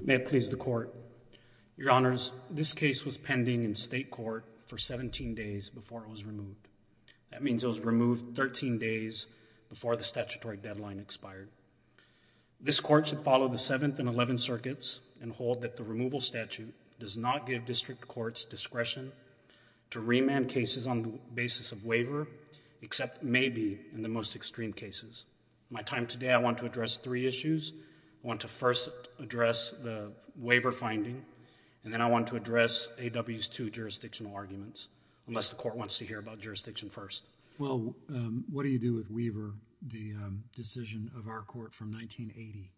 May it please the Court, Your Honors, this case was pending in state court for 17 days before it was removed. That means it was removed 13 days before the statutory deadline expired. This Court should follow the 7th and 11th circuits and hold that the removal statute does not give district courts discretion to remand cases on the basis of waiver, except maybe in the most extreme cases. My time today, I want to address three issues. I want to first address the waiver finding, and then I want to address A.W.'s two jurisdictional arguments, unless the Court wants to hear about jurisdiction first. Well, what do you do with Weaver, the decision of our Court from 1980?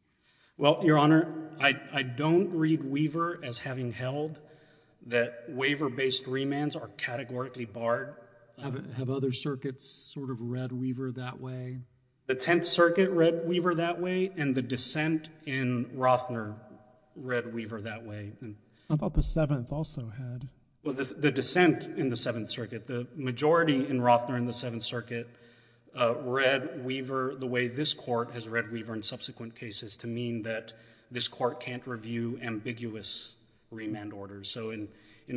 Well, Your Honor, I don't read Weaver as having held that waiver-based remands are categorically barred. Have other circuits sort of read Weaver that way? The Tenth Circuit read Weaver that way, and the dissent in Rothner read Weaver that way. How about the Seventh also had? The dissent in the Seventh Circuit, the majority in Rothner in the Seventh Circuit read Weaver the way this Court has read Weaver in subsequent cases to mean that this Court can't review ambiguous remand orders. So in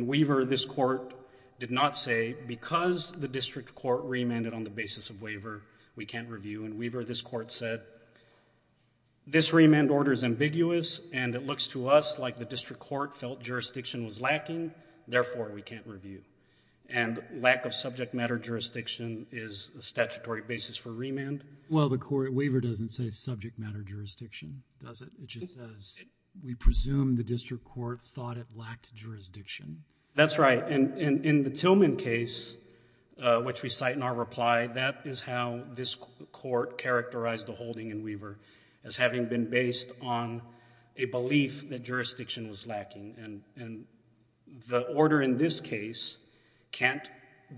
Weaver, this Court did not say, because the district court remanded on the basis of review. In Weaver, this Court said, this remand order is ambiguous, and it looks to us like the district court felt jurisdiction was lacking, therefore, we can't review. And lack of subject matter jurisdiction is a statutory basis for remand. Well, the waiver doesn't say subject matter jurisdiction, does it? It just says, we presume the district court thought it lacked jurisdiction. That's right. In the Tillman case, which we cite in our reply, that is how this Court characterized the holding in Weaver as having been based on a belief that jurisdiction was lacking. And the order in this case can't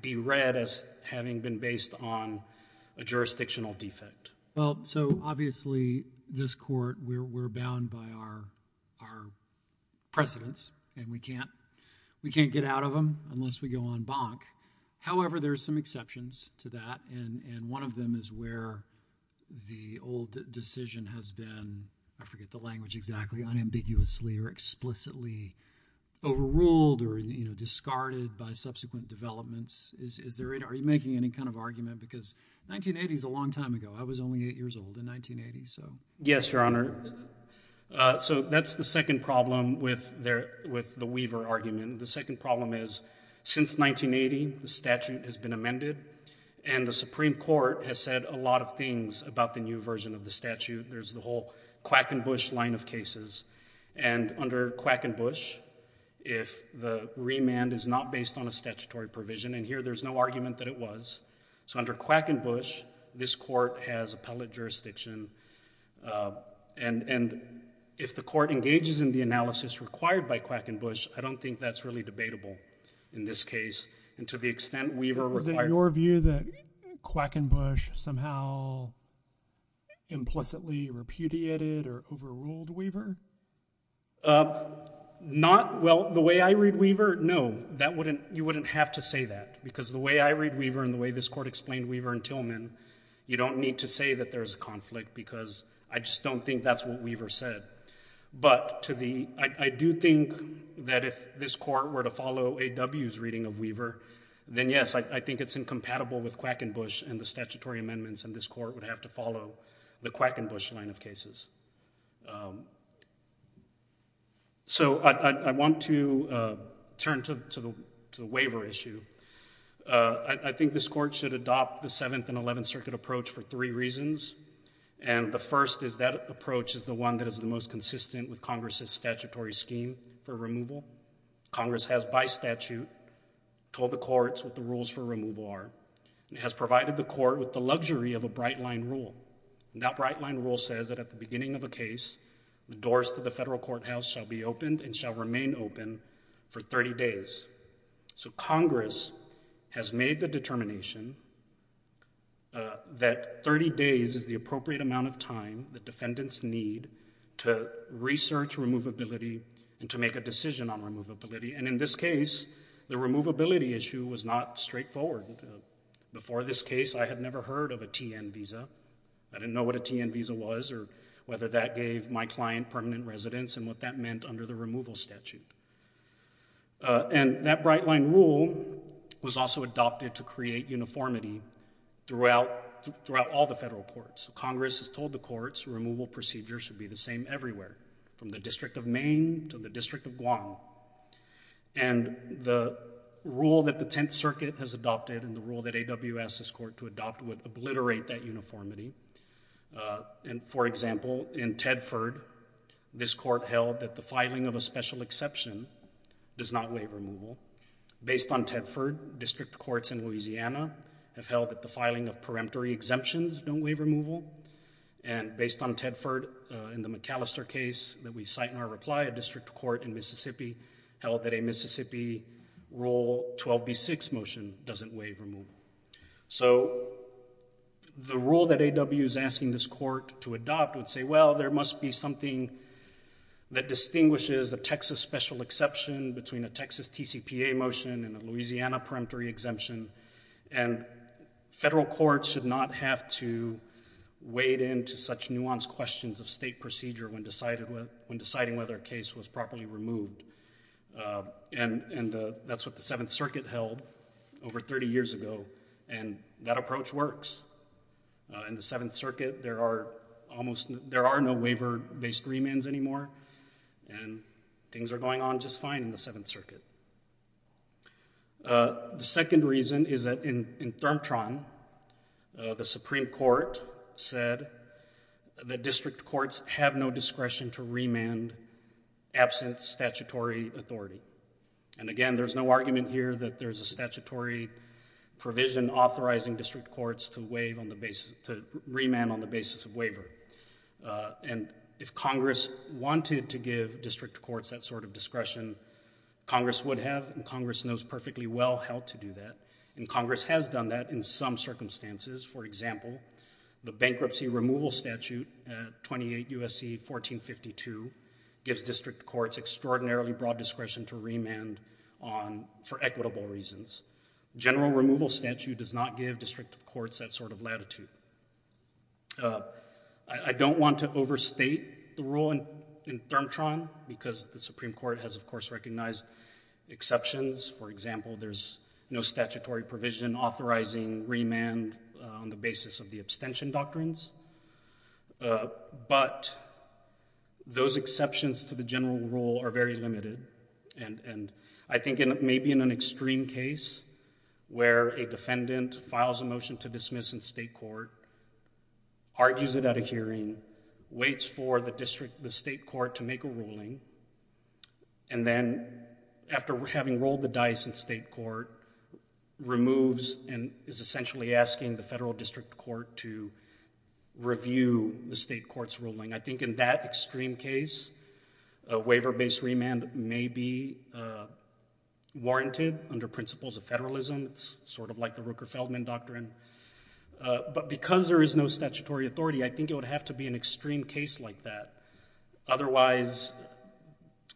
be read as having been based on a jurisdictional defect. Well, so obviously, this Court, we're bound by our precedents, and we can't get out of them unless we go on bonk. However, there are some exceptions to that, and one of them is where the old decision has been, I forget the language exactly, unambiguously or explicitly overruled or discarded by subsequent developments. Are you making any kind of argument? Because 1980 is a long time ago. I was only eight years old in 1980, so. Yes, Your Honor. So that's the second problem with the Weaver argument. And the second problem is, since 1980, the statute has been amended, and the Supreme Court has said a lot of things about the new version of the statute. There's the whole Quackenbush line of cases. And under Quackenbush, if the remand is not based on a statutory provision, and here there's no argument that it was. So under Quackenbush, this Court has appellate jurisdiction, and if the Court engages in the analysis required by Quackenbush, I don't think that's really debatable in this case. And to the extent Weaver required. Was it your view that Quackenbush somehow implicitly repudiated or overruled Weaver? Not, well, the way I read Weaver, no. You wouldn't have to say that, because the way I read Weaver and the way this Court explained Weaver and Tillman, you don't need to say that there's a conflict, because I just don't think that's what Weaver said. But I do think that if this Court were to follow A.W.'s reading of Weaver, then yes, I think it's incompatible with Quackenbush and the statutory amendments, and this Court would have to follow the Quackenbush line of cases. So I want to turn to the waiver issue. I think this Court should adopt the Seventh and Eleventh Circuit approach for three reasons. And the first is that approach is the one that is the most consistent with Congress's statutory scheme for removal. Congress has, by statute, told the courts what the rules for removal are, and has provided the Court with the luxury of a bright-line rule. That bright-line rule says that at the beginning of a case, the doors to the federal courthouse shall be opened and shall remain open for 30 days. So Congress has made the determination that 30 days is the appropriate amount of time the defendants need to research removability and to make a decision on removability. And in this case, the removability issue was not straightforward. Before this case, I had never heard of a T.N. visa. I didn't know what a T.N. visa was or whether that gave my client permanent residence and what that meant under the removal statute. And that bright-line rule was also adopted to create uniformity throughout all the federal courts. Congress has told the courts removal procedures should be the same everywhere, from the District of Maine to the District of Guam. And the rule that the Tenth Circuit has adopted and the rule that AWS has called to adopt would obliterate that uniformity. And, for example, in Tedford, this court held that the filing of a special exception does not waive removal. Based on Tedford, district courts in Louisiana have held that the filing of peremptory exemptions don't waive removal. And based on Tedford, in the McAllister case that we cite in our reply, a district court in Mississippi held that a Mississippi Rule 12b6 motion doesn't waive removal. So the rule that AWS is asking this court to adopt would say, well, there must be something that distinguishes a Texas special exception between a Texas TCPA motion and a Louisiana peremptory exemption, and federal courts should not have to wade into such nuanced questions of state procedure when deciding whether a case was properly removed. And that's what the Seventh Circuit held over 30 years ago, and that approach works. In the Seventh Circuit, there are no waiver-based remands anymore, and things are going on just fine in the Seventh Circuit. The second reason is that in ThermTron, the Supreme Court said that district courts have no discretion to remand absent statutory authority. And again, there's no argument here that there's a statutory provision authorizing district courts to remand on the basis of waiver. And if Congress wanted to give district courts that sort of discretion, Congress would have, and Congress knows perfectly well how to do that, and Congress has done that in some circumstances. For example, the Bankruptcy Removal Statute, 28 U.S.C. 1452, gives district courts extraordinarily broad discretion to remand on, for equitable reasons. General Removal Statute does not give district courts that sort of latitude. I don't want to overstate the rule in ThermTron because the Supreme Court has, of course, recognized exceptions. For example, there's no statutory provision authorizing remand on the basis of the abstention doctrines. But those exceptions to the general rule are very limited, and I think maybe in an extreme case where a defendant files a motion to dismiss in state court, argues it at a hearing, waits for the district, the state court to make a ruling, and then after having rolled the dice in state court, removes and is essentially asking the federal district court to review the state court's ruling. I think in that extreme case, a waiver-based remand may be warranted under principles of federalism. It's sort of like the Rooker-Feldman Doctrine. But because there is no statutory authority, I think it would have to be an extreme case like that. Otherwise,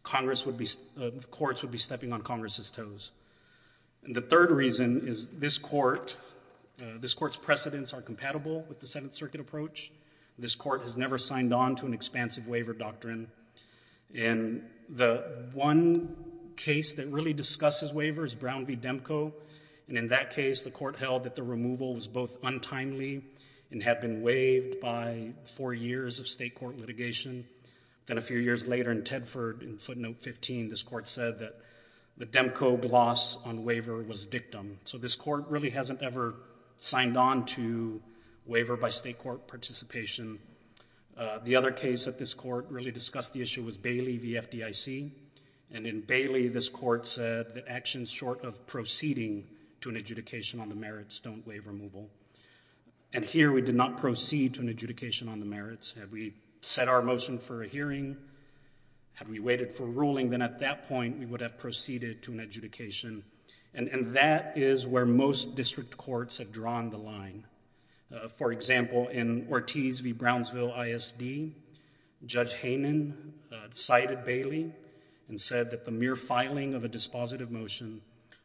courts would be stepping on Congress's toes. The third reason is this Court's precedents are compatible with the Seventh Circuit approach. This Court has never signed on to an expansive waiver doctrine. And the one case that really discusses waivers, Brown v. Demko, and in that case, the Court held that the removal was both untimely and had been waived by four years of state court litigation. Then a few years later in Tedford, in footnote 15, this Court said that the Demko gloss on waiver was dictum. So this Court really hasn't ever signed on to waiver by state court participation. The other case that this Court really discussed the issue was Bailey v. FDIC, and in Bailey, this Court said that actions short of proceeding to an adjudication on the merits don't waive removal. And here, we did not proceed to an adjudication on the merits. Had we set our motion for a hearing, had we waited for a ruling, then at that point, we would have proceeded to an adjudication. And that is where most district courts have drawn the line. For example, in Ortiz v. Brownsville ISD, Judge Hanen cited Bailey and said that the mere filing of a dispositive motion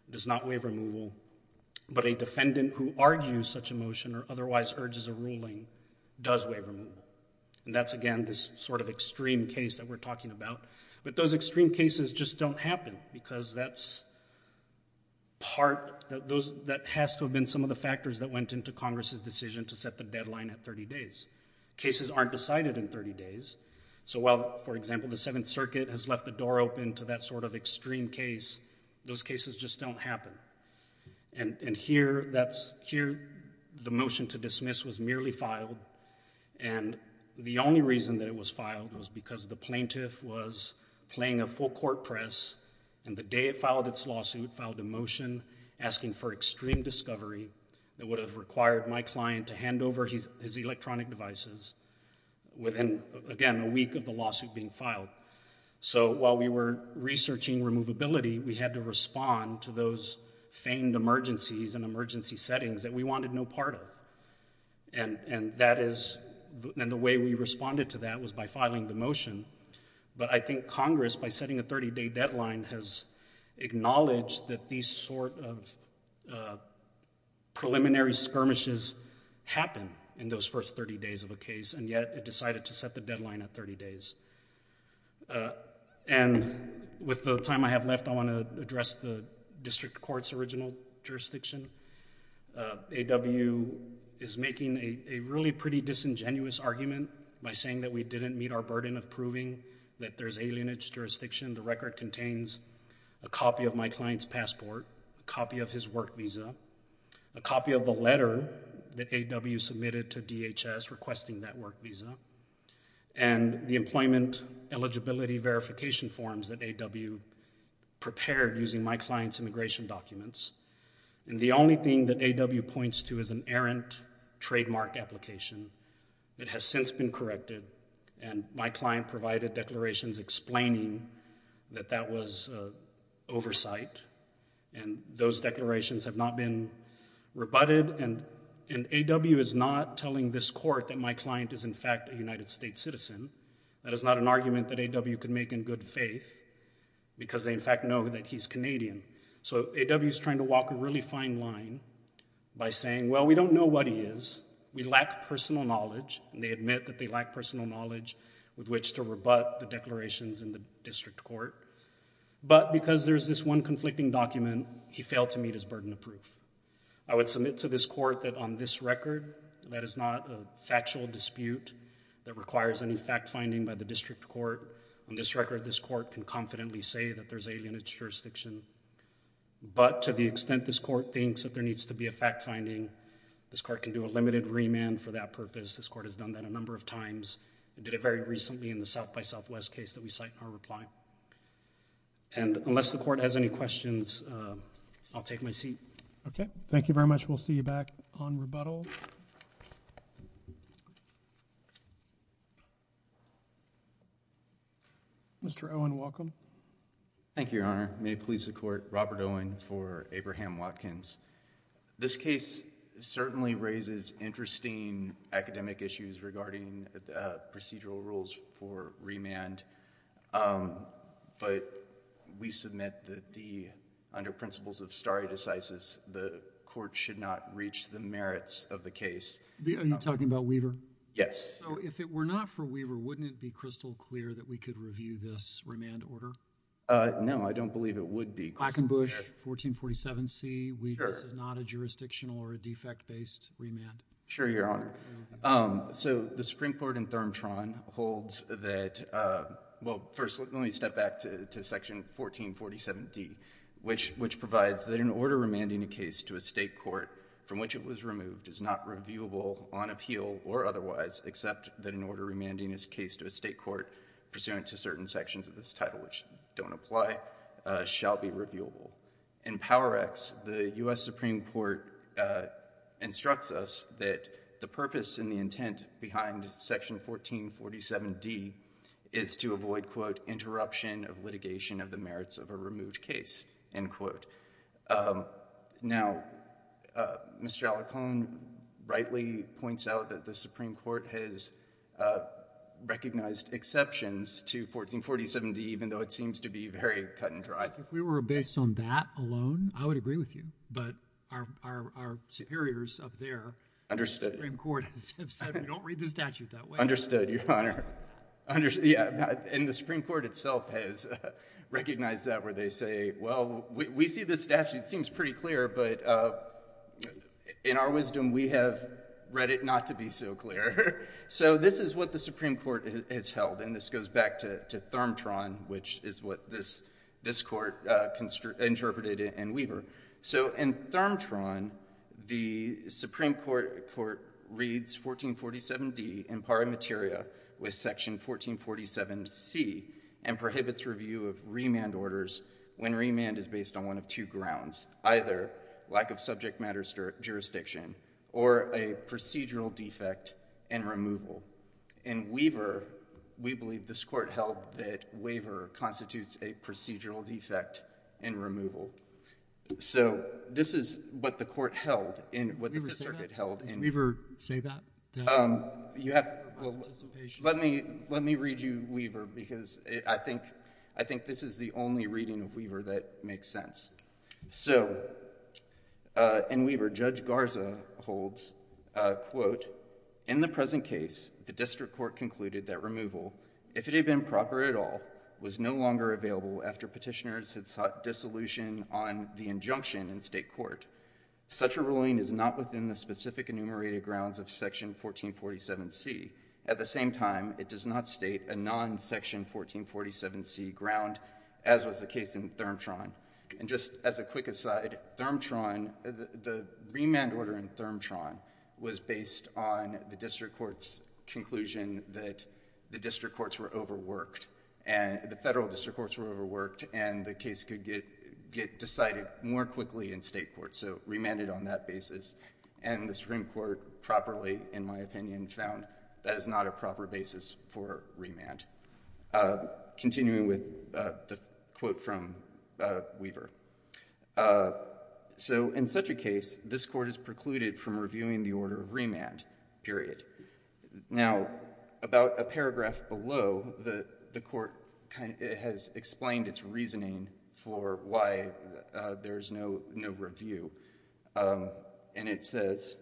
does not waive removal, but a defendant who argues such a motion or otherwise urges a ruling does waive removal. And that's, again, this sort of extreme case that we're talking about. But those extreme cases just don't happen because that's part, that has to have been some of the factors that went into Congress's decision to set the deadline at 30 days. Cases aren't decided in 30 days. So while, for example, the Seventh Circuit has left the door open to that sort of extreme case, those cases just don't happen. And here, that's, here, the motion to dismiss was merely filed, and the only reason that it was filed was because the plaintiff was playing a full court press, and the day it filed its lawsuit, filed a motion asking for extreme discovery that would have required my client to hand over his electronic devices within, again, a week of the lawsuit being filed. So while we were researching removability, we had to respond to those famed emergencies and emergency settings that we wanted no part of. And that is, and the way we responded to that was by filing the motion. But I think Congress, by setting a 30-day deadline, has acknowledged that these sort of preliminary skirmishes happen in those first 30 days of a case, and yet it decided to set the deadline at 30 days. And with the time I have left, I want to address the district court's original jurisdiction. AWU is making a really pretty disingenuous argument by saying that we didn't meet our burden of proving that there's alienage jurisdiction. The record contains a copy of my client's passport, a copy of his work visa, a copy of the letter that AWU submitted to DHS requesting that work visa, and the employment eligibility verification forms that AWU prepared using my client's immigration documents. And the only thing that AWU points to is an errant trademark application that has since been corrected, and my client provided declarations explaining that that was oversight. And those declarations have not been rebutted, and AWU is not telling this court that my client is, in fact, a United States citizen. That is not an argument that AWU could make in good faith, because they, in fact, know that he's Canadian. So AWU is trying to walk a really fine line by saying, well, we don't know what he is. We lack personal knowledge, and they admit that they lack personal knowledge with which to rebut the declarations in the district court. But because there's this one conflicting document, he failed to meet his burden of proof. I would submit to this court that on this record, that is not a factual dispute that requires any fact-finding by the district court. On this record, this court can confidently say that there's alienage jurisdiction. But to the extent this court thinks that there needs to be a fact-finding, this court can do a limited remand for that purpose. This court has done that a number of times, and did it very recently in the South by Southwest case that we cite in our reply. And unless the court has any questions, I'll take my seat. Okay. Thank you very much. We'll see you back on rebuttal. Mr. Owen, welcome. Thank you, Your Honor. May it please the court, Robert Owen for Abraham Watkins. This case certainly raises interesting academic issues regarding procedural rules for remand. But we submit that under principles of stare decisis, the court should not reach the merits of the case. Are you talking about Weaver? Yes. So if it were not for Weaver, wouldn't it be crystal clear that we could review this remand order? No, I don't believe it would be. Black and Bush, 1447C, this is not a jurisdictional or a defect-based remand. Sure, Your Honor. So the Supreme Court in ThermTron holds that, well, first, let me step back to Section 1447D, which provides that an order remanding a case to a state court from which it was removed is not reviewable on appeal or otherwise, except that an order remanding this case to a state court pursuant to certain sections of this title, which don't apply, shall be reviewable. In Power Acts, the U.S. Supreme Court instructs us that the purpose and the intent behind Section 1447D is to avoid, quote, interruption of litigation of the merits of a removed case, end quote. Now, Mr. Alicorn rightly points out that the Supreme Court has recognized exceptions to 1447D, even though it seems to be very cut and dry. If we were based on that alone, I would agree with you. But our superiors up there in the Supreme Court have said, we don't read the statute that way. Understood, Your Honor. Understood, yeah. And the Supreme Court itself has recognized that, where they say, well, we see the statute seems pretty clear, but in our wisdom, we have read it not to be so clear. So this is what the Supreme Court has held, and this goes back to Thermtron, which is what this court interpreted in Weaver. So in Thermtron, the Supreme Court reads 1447D in pari materia with Section 1447C and prohibits review of remand orders when remand is based on one of two grounds, either lack of subject matter jurisdiction or a procedural defect in removal. In Weaver, we believe this court held that waiver constitutes a procedural defect in removal. So this is what the court held in, what the Fifth Circuit held in... Did Weaver say that, that... You have to...... participation... Well, let me read you Weaver, because I think, I think this is the only reading of Weaver that makes sense. So in Weaver, Judge Garza holds, quote, in the present case, the district court concluded that removal, if it had been proper at all, was no longer available after petitioners had sought dissolution on the injunction in state court. Such a ruling is not within the specific enumerated grounds of Section 1447C. At the same time, it does not state a non-Section 1447C ground, as was the case in Thermtron. And just as a quick aside, Thermtron, the remand order in Thermtron was based on the district court's conclusion that the district courts were overworked, and the Federal District Courts were overworked, and the case could get decided more quickly in state court. So remanded on that basis. And the Supreme Court properly, in my opinion, found that is not a proper basis for remand. Continuing with the quote from Weaver. So in such a case, this court is precluded from reviewing the order of remand, period. Now about a paragraph below, the court has explained its reasoning for why there is no review. And it says,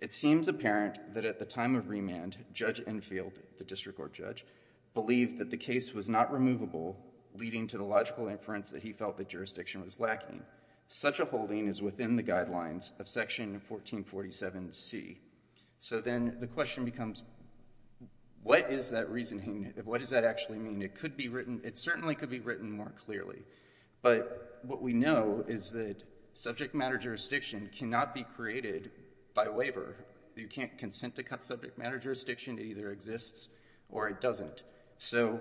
it seems apparent that at the time of remand, Judge Enfield, the district court judge, believed that the case was not removable, leading to the logical inference that he felt that jurisdiction was lacking. Such a holding is within the guidelines of Section 1447C. So then the question becomes, what is that reasoning? What does that actually mean? It could be written. It certainly could be written more clearly. But what we know is that subject matter jurisdiction cannot be created by waiver. You can't consent to cut subject matter jurisdiction, it either exists or it doesn't. So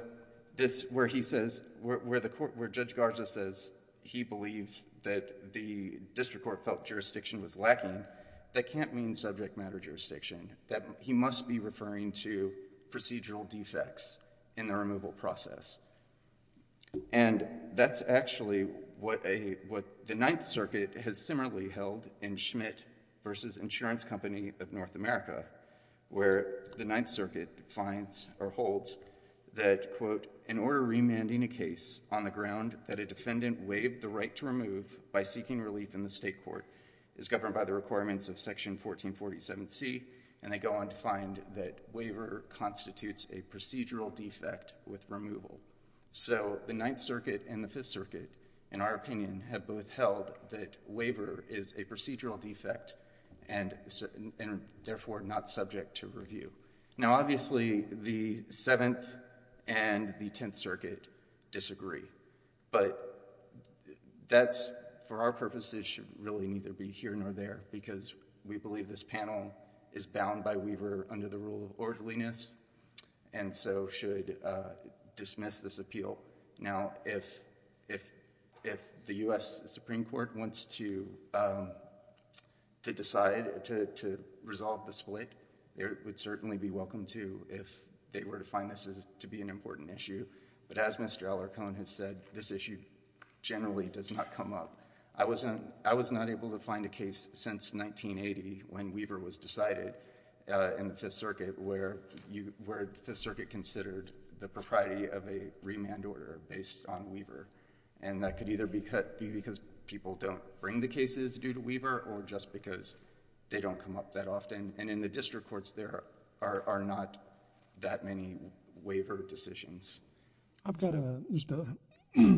this, where he says, where Judge Garza says he believed that the district court felt jurisdiction was lacking, that can't mean subject matter jurisdiction. He must be referring to procedural defects in the removal process. And that's actually what the Ninth Circuit has similarly held in Schmidt v. Insurance Company of North America, where the Ninth Circuit finds or holds that, quote, in order remanding a case on the ground that a defendant waived the right to remove by seeking relief in the state court is governed by the requirements of Section 1447C, and they go on to find that waiver constitutes a procedural defect with removal. So the Ninth Circuit and the Fifth Circuit, in our opinion, have both held that waiver is a procedural defect and, therefore, not subject to review. Now, obviously, the Seventh and the Tenth Circuit disagree. But that's, for our purposes, should really neither be here nor there, because we believe this panel is bound by waiver under the rule of orderliness and so should dismiss this appeal. Now, if the U.S. Supreme Court wants to decide to resolve the split, it would certainly be welcome to if they were to find this to be an important issue. But as Mr. Alarcone has said, this issue generally does not come up. I was not able to find a case since 1980 when waiver was decided in the Fifth Circuit where the Circuit considered the propriety of a remand order based on waiver. And that could either be because people don't bring the cases due to waiver or just because they don't come up that often. And in the district courts, there are not that many waiver decisions. I've got just a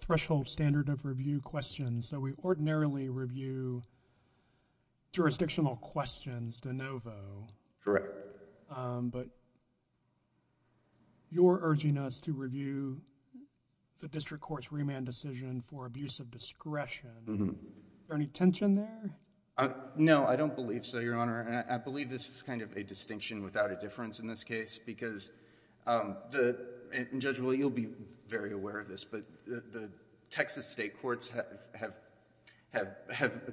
threshold standard of review question. So we ordinarily review jurisdictional questions de novo. Correct. But you're urging us to review the district court's remand decision for abuse of discretion. Is there any tension there? No, I don't believe so, Your Honor. And I believe this is kind of a distinction without a difference in this case, because the, and Judge Willey, you'll be very aware of this, but the Texas state courts have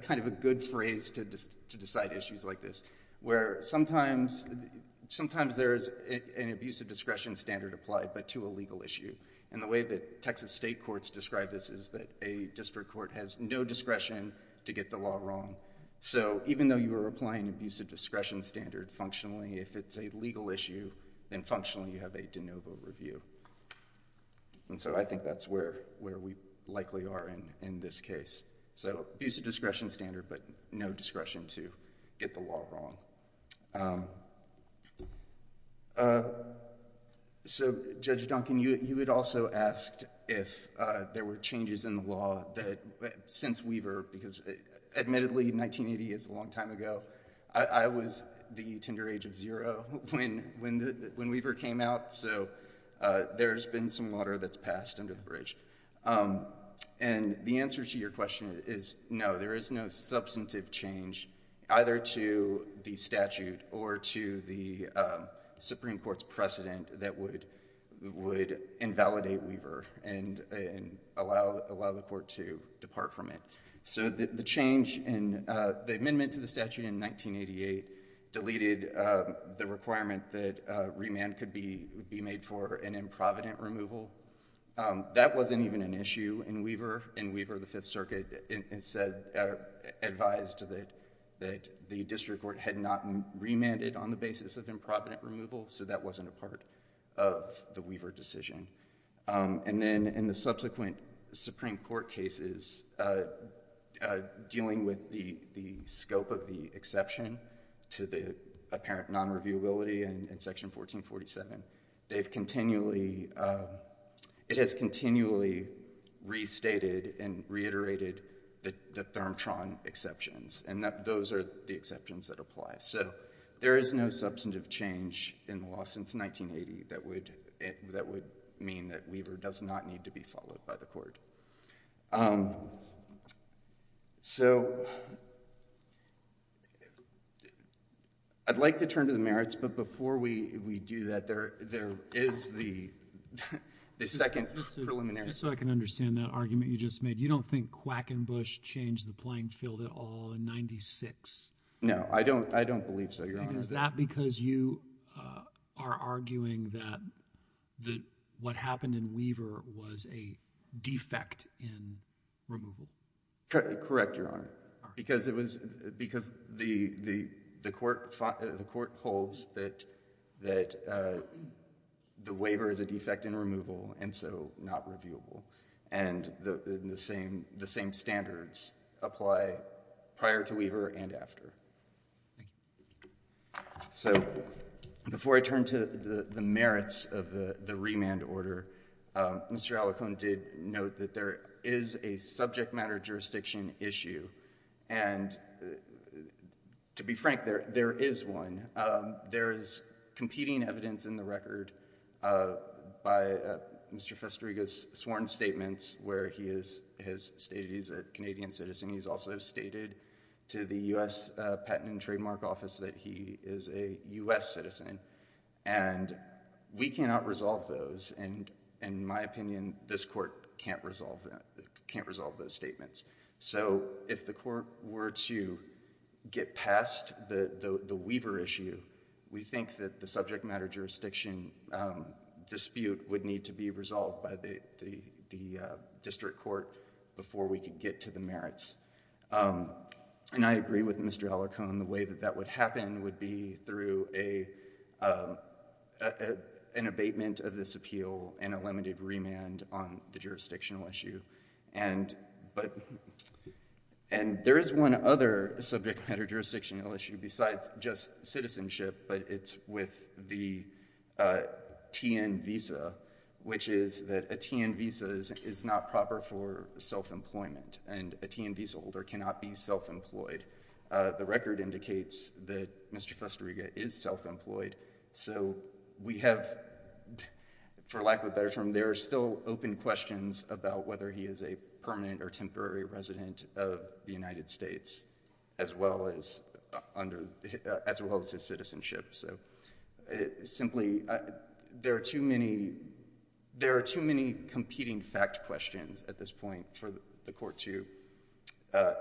kind of a good phrase to decide issues like this, where sometimes there is an abuse of discretion standard applied, but to a legal issue. And the way that Texas state courts describe this is that a district court has no discretion to get the law wrong. So even though you are applying abuse of discretion standard functionally, if it's a legal issue, then functionally you have a de novo review. And so I think that's where we likely are in this case. So abuse of discretion standard, but no discretion to get the law wrong. So Judge Duncan, you had also asked if there were changes in the law that, since Weaver, because admittedly 1980 is a long time ago. I was the tender age of zero when Weaver came out. So there's been some water that's passed under the bridge. And the answer to your question is no, there is no substantive change either to the statute or to the Supreme Court's precedent that would invalidate Weaver and allow the court to depart from it. So the change in the amendment to the statute in 1988 deleted the requirement that remand could be made for an improvident removal. That wasn't even an issue in Weaver. In Weaver, the Fifth Circuit advised that the district court had not remanded on the basis of improvident removal, so that wasn't a part of the Weaver decision. And then in the subsequent Supreme Court cases, dealing with the scope of the exception to the apparent non-reviewability in Section 1447, they've continually, it has continually restated and reiterated the Therm-Tron exceptions, and those are the exceptions that apply. So there is no substantive change in the law since 1980 that would mean that Weaver does not need to be followed by the court. So, I'd like to turn to the merits, but before we do that, there is the second preliminary question. Just so I can understand that argument you just made, you don't think Quackenbush changed the playing field at all in 1996? No, I don't believe so, Your Honor. And is that because you are arguing that what happened in Weaver was a defect in removal? Correct, Your Honor, because it was, because the court holds that the waiver is a defect in removal, and so not reviewable. And the same standards apply prior to Weaver and after. Thank you. So, before I turn to the merits of the remand order, Mr. Alicone did note that there is a subject matter jurisdiction issue, and to be frank, there is one. There is competing evidence in the record by Mr. Festeriga's sworn statements where he has stated he's a Canadian citizen. He's also stated to the U.S. Patent and Trademark Office that he is a U.S. citizen, and we cannot resolve those, and in my opinion, this court can't resolve those statements. So if the court were to get past the Weaver issue, we think that the subject matter jurisdiction dispute would need to be resolved by the district court before we could get to the merits. And I agree with Mr. Alicone, the way that that would happen would be through an abatement of this appeal and a limited remand on the jurisdictional issue. And there is one other subject matter jurisdictional issue besides just citizenship, but it's with the TN visa, which is that a TN visa is not proper for self-employment, and a TN visa holder cannot be self-employed. The record indicates that Mr. Festeriga is self-employed, so we have, for lack of a better term, there are still open questions about whether he is a permanent or temporary resident of the United States, as well as his citizenship. So simply, there are too many competing fact questions at this point for the court to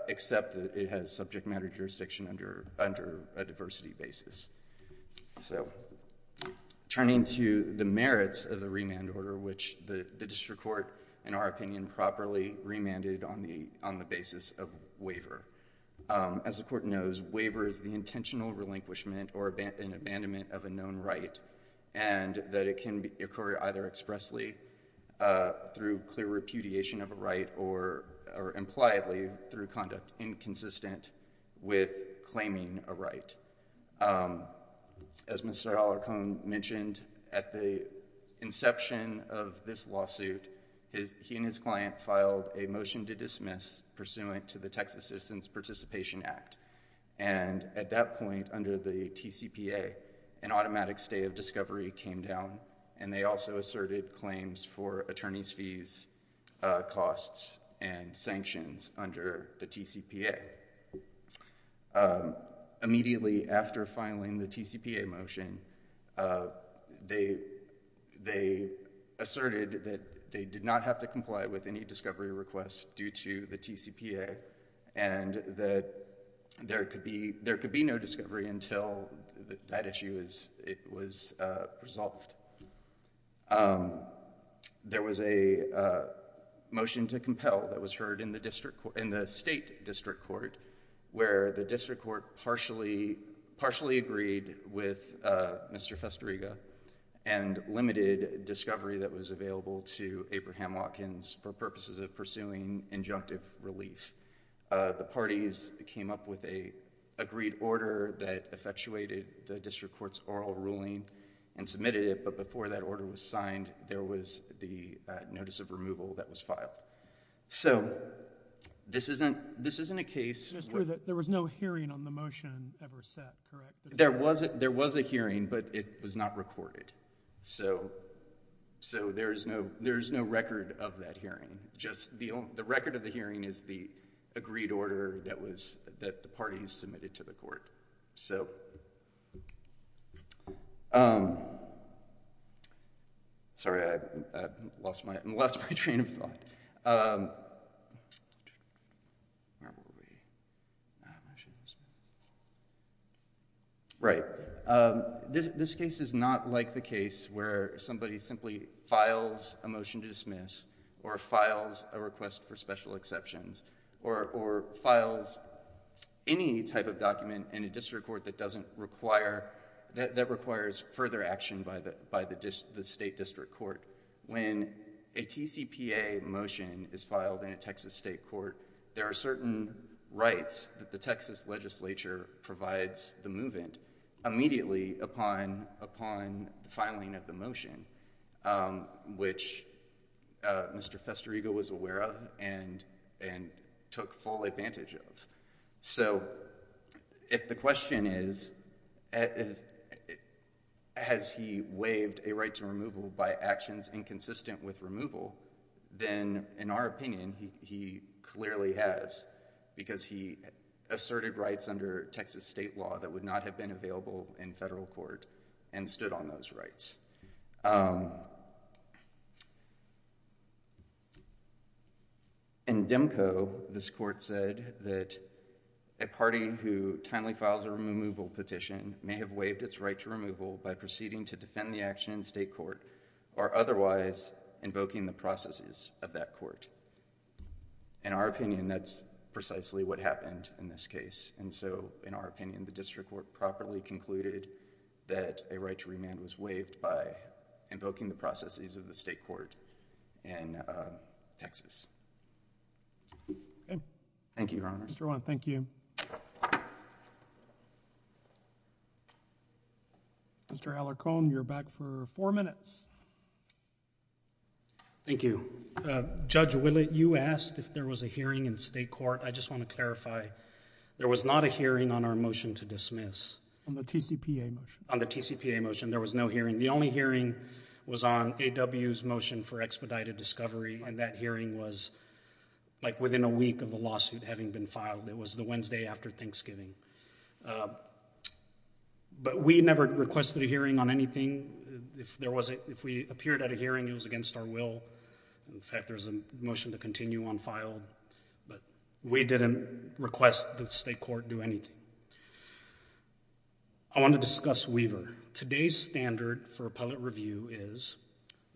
accept that it has subject matter jurisdiction under a diversity basis. So turning to the merits of the remand order, which the district court, in our opinion, improperly remanded on the basis of waiver. As the court knows, waiver is the intentional relinquishment or an abandonment of a known right, and that it can occur either expressly through clear repudiation of a right or impliedly As Mr. Hollercone mentioned, at the inception of this lawsuit, he and his client filed a motion to dismiss pursuant to the Texas Citizens Participation Act, and at that point under the TCPA, an automatic stay of discovery came down, and they also asserted claims for attorney's fees, costs, and sanctions under the TCPA. Immediately after filing the TCPA motion, they asserted that they did not have to comply with any discovery requests due to the TCPA, and that there could be no discovery until that issue was resolved. There was a motion to compel that was heard in the state district court, where the district court partially agreed with Mr. Festeriga and limited discovery that was available to Abraham Watkins for purposes of pursuing injunctive relief. The parties came up with an agreed order that effectuated the district court's oral ruling and submitted it, but before that order was signed, there was the notice of removal that was filed. So this isn't a case... There was no hearing on the motion ever set, correct? There was a hearing, but it was not recorded. So there is no record of that hearing. Just the record of the hearing is the agreed order that the parties submitted to the court. So... Sorry, I lost my train of thought. Where were we? Right. This case is not like the case where somebody simply files a motion to dismiss, or files a request for special exceptions, or files any type of document in a district court that doesn't require... that requires further action by the state district court. When a TCPA motion is filed in a Texas state court, there are certain rights that the Texas legislature provides the move-in immediately upon the filing of the motion, which Mr. Festeriga was aware of, and took full advantage of. So if the question is, has he waived a right to removal by actions inconsistent with removal, then in our opinion, he clearly has, because he asserted rights under Texas state law that would not have been available in federal court, and stood on those rights. In DEMCO, this court said that a party who timely files a removal petition may have waived its right to removal by proceeding to defend the action in state court, or otherwise invoking the processes of that court. In our opinion, that's precisely what happened in this case, and so in our opinion, the district court properly concluded that a right to remand was waived by invoking the processes of the state court in Texas. Thank you, Your Honor. Mr. Haller-Cohn, you're back for four minutes. Thank you. Judge Willett, you asked if there was a hearing in state court. I just want to clarify, there was not a hearing on our motion to dismiss. On the TCPA motion. On the TCPA motion. There was no hearing. The only hearing was on AW's motion for expedited discovery, and that hearing was, like, within a week of the lawsuit having been filed. It was the Wednesday after Thanksgiving. But we never requested a hearing on anything. If there was a, if we appeared at a hearing, it was against our will. In fact, there's a motion to continue on file, but we didn't request the state court do anything. I want to discuss Weaver. Today's standard for appellate review is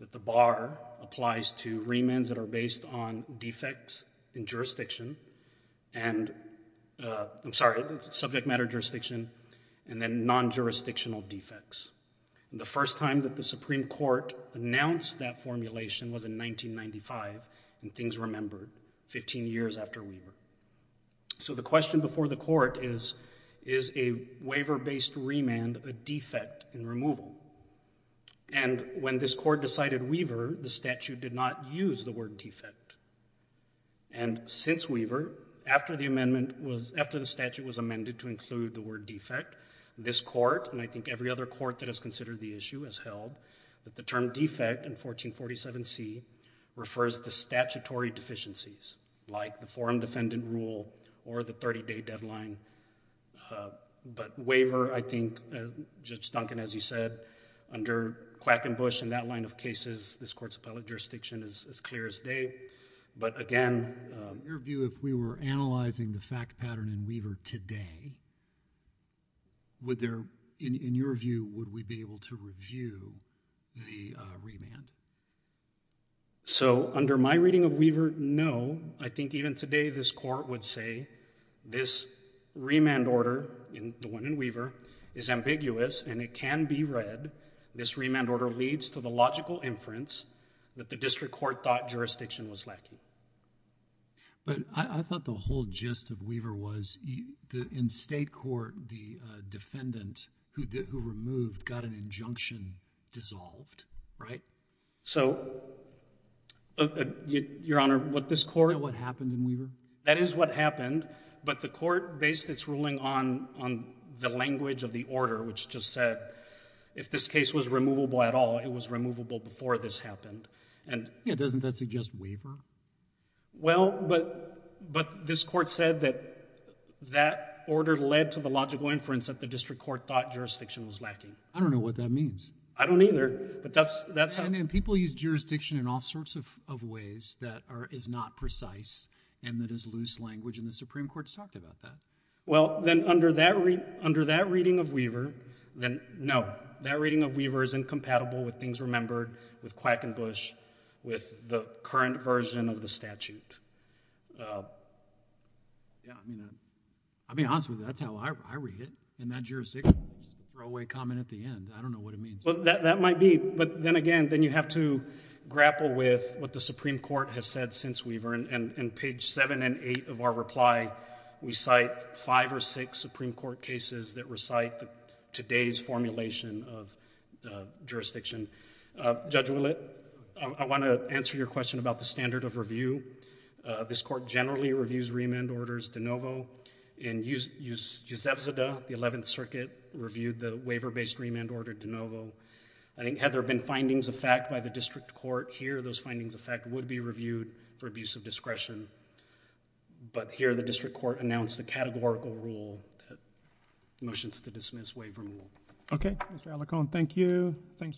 that the bar applies to remands that are based on defects in jurisdiction, and, I'm sorry, subject matter jurisdiction, and then non-jurisdictional defects. The first time that the Supreme Court announced that formulation was in 1995, and things remembered, 15 years after Weaver. So the question before the court is, is a waiver-based remand a defect in removal? And when this court decided Weaver, the statute did not use the word defect. And since Weaver, after the amendment was, after the statute was amended to include the court that has considered the issue as held, that the term defect in 1447C refers to statutory deficiencies, like the forum defendant rule or the 30-day deadline. But Weaver, I think, Judge Duncan, as you said, under Quackenbush and that line of cases, this court's appellate jurisdiction is as clear as day. But again, in your view, if we were analyzing the fact pattern in Weaver today, would there, in your view, would we be able to review the remand? So under my reading of Weaver, no. I think even today this court would say this remand order, the one in Weaver, is ambiguous and it can be read. This remand order leads to the logical inference that the district court thought jurisdiction was lacking. But I thought the whole gist of Weaver was, in state court, the defendant who removed got an injunction dissolved, right? So Your Honor, what this court Do you know what happened in Weaver? That is what happened. But the court based its ruling on the language of the order, which just said, if this case was removable at all, it was removable before this happened. Yeah, doesn't that suggest Weaver? Well, but this court said that that order led to the logical inference that the district court thought jurisdiction was lacking. I don't know what that means. I don't either. But that's how And people use jurisdiction in all sorts of ways that is not precise and that is loose language and the Supreme Court's talked about that. Well, then under that reading of Weaver, then no, that reading of Weaver is incompatible with Things Remembered, with Quackenbush, with the current version of the statute. Yeah, I mean, I mean, honestly, that's how I read it in that jurisdiction, just a throwaway comment at the end. I don't know what it means. Well, that might be. But then again, then you have to grapple with what the Supreme Court has said since Weaver. And page seven and eight of our reply, we cite five or six Supreme Court cases that Judge Willett, I want to answer your question about the standard of review. This court generally reviews remand orders de novo in Eusebio, the 11th Circuit, reviewed the waiver-based remand order de novo. I think had there been findings of fact by the district court here, those findings of fact would be reviewed for abuse of discretion. But here the district court announced a categorical rule that motions to dismiss waiver rule. Okay. Mr. Alicone, thank you. Thanks.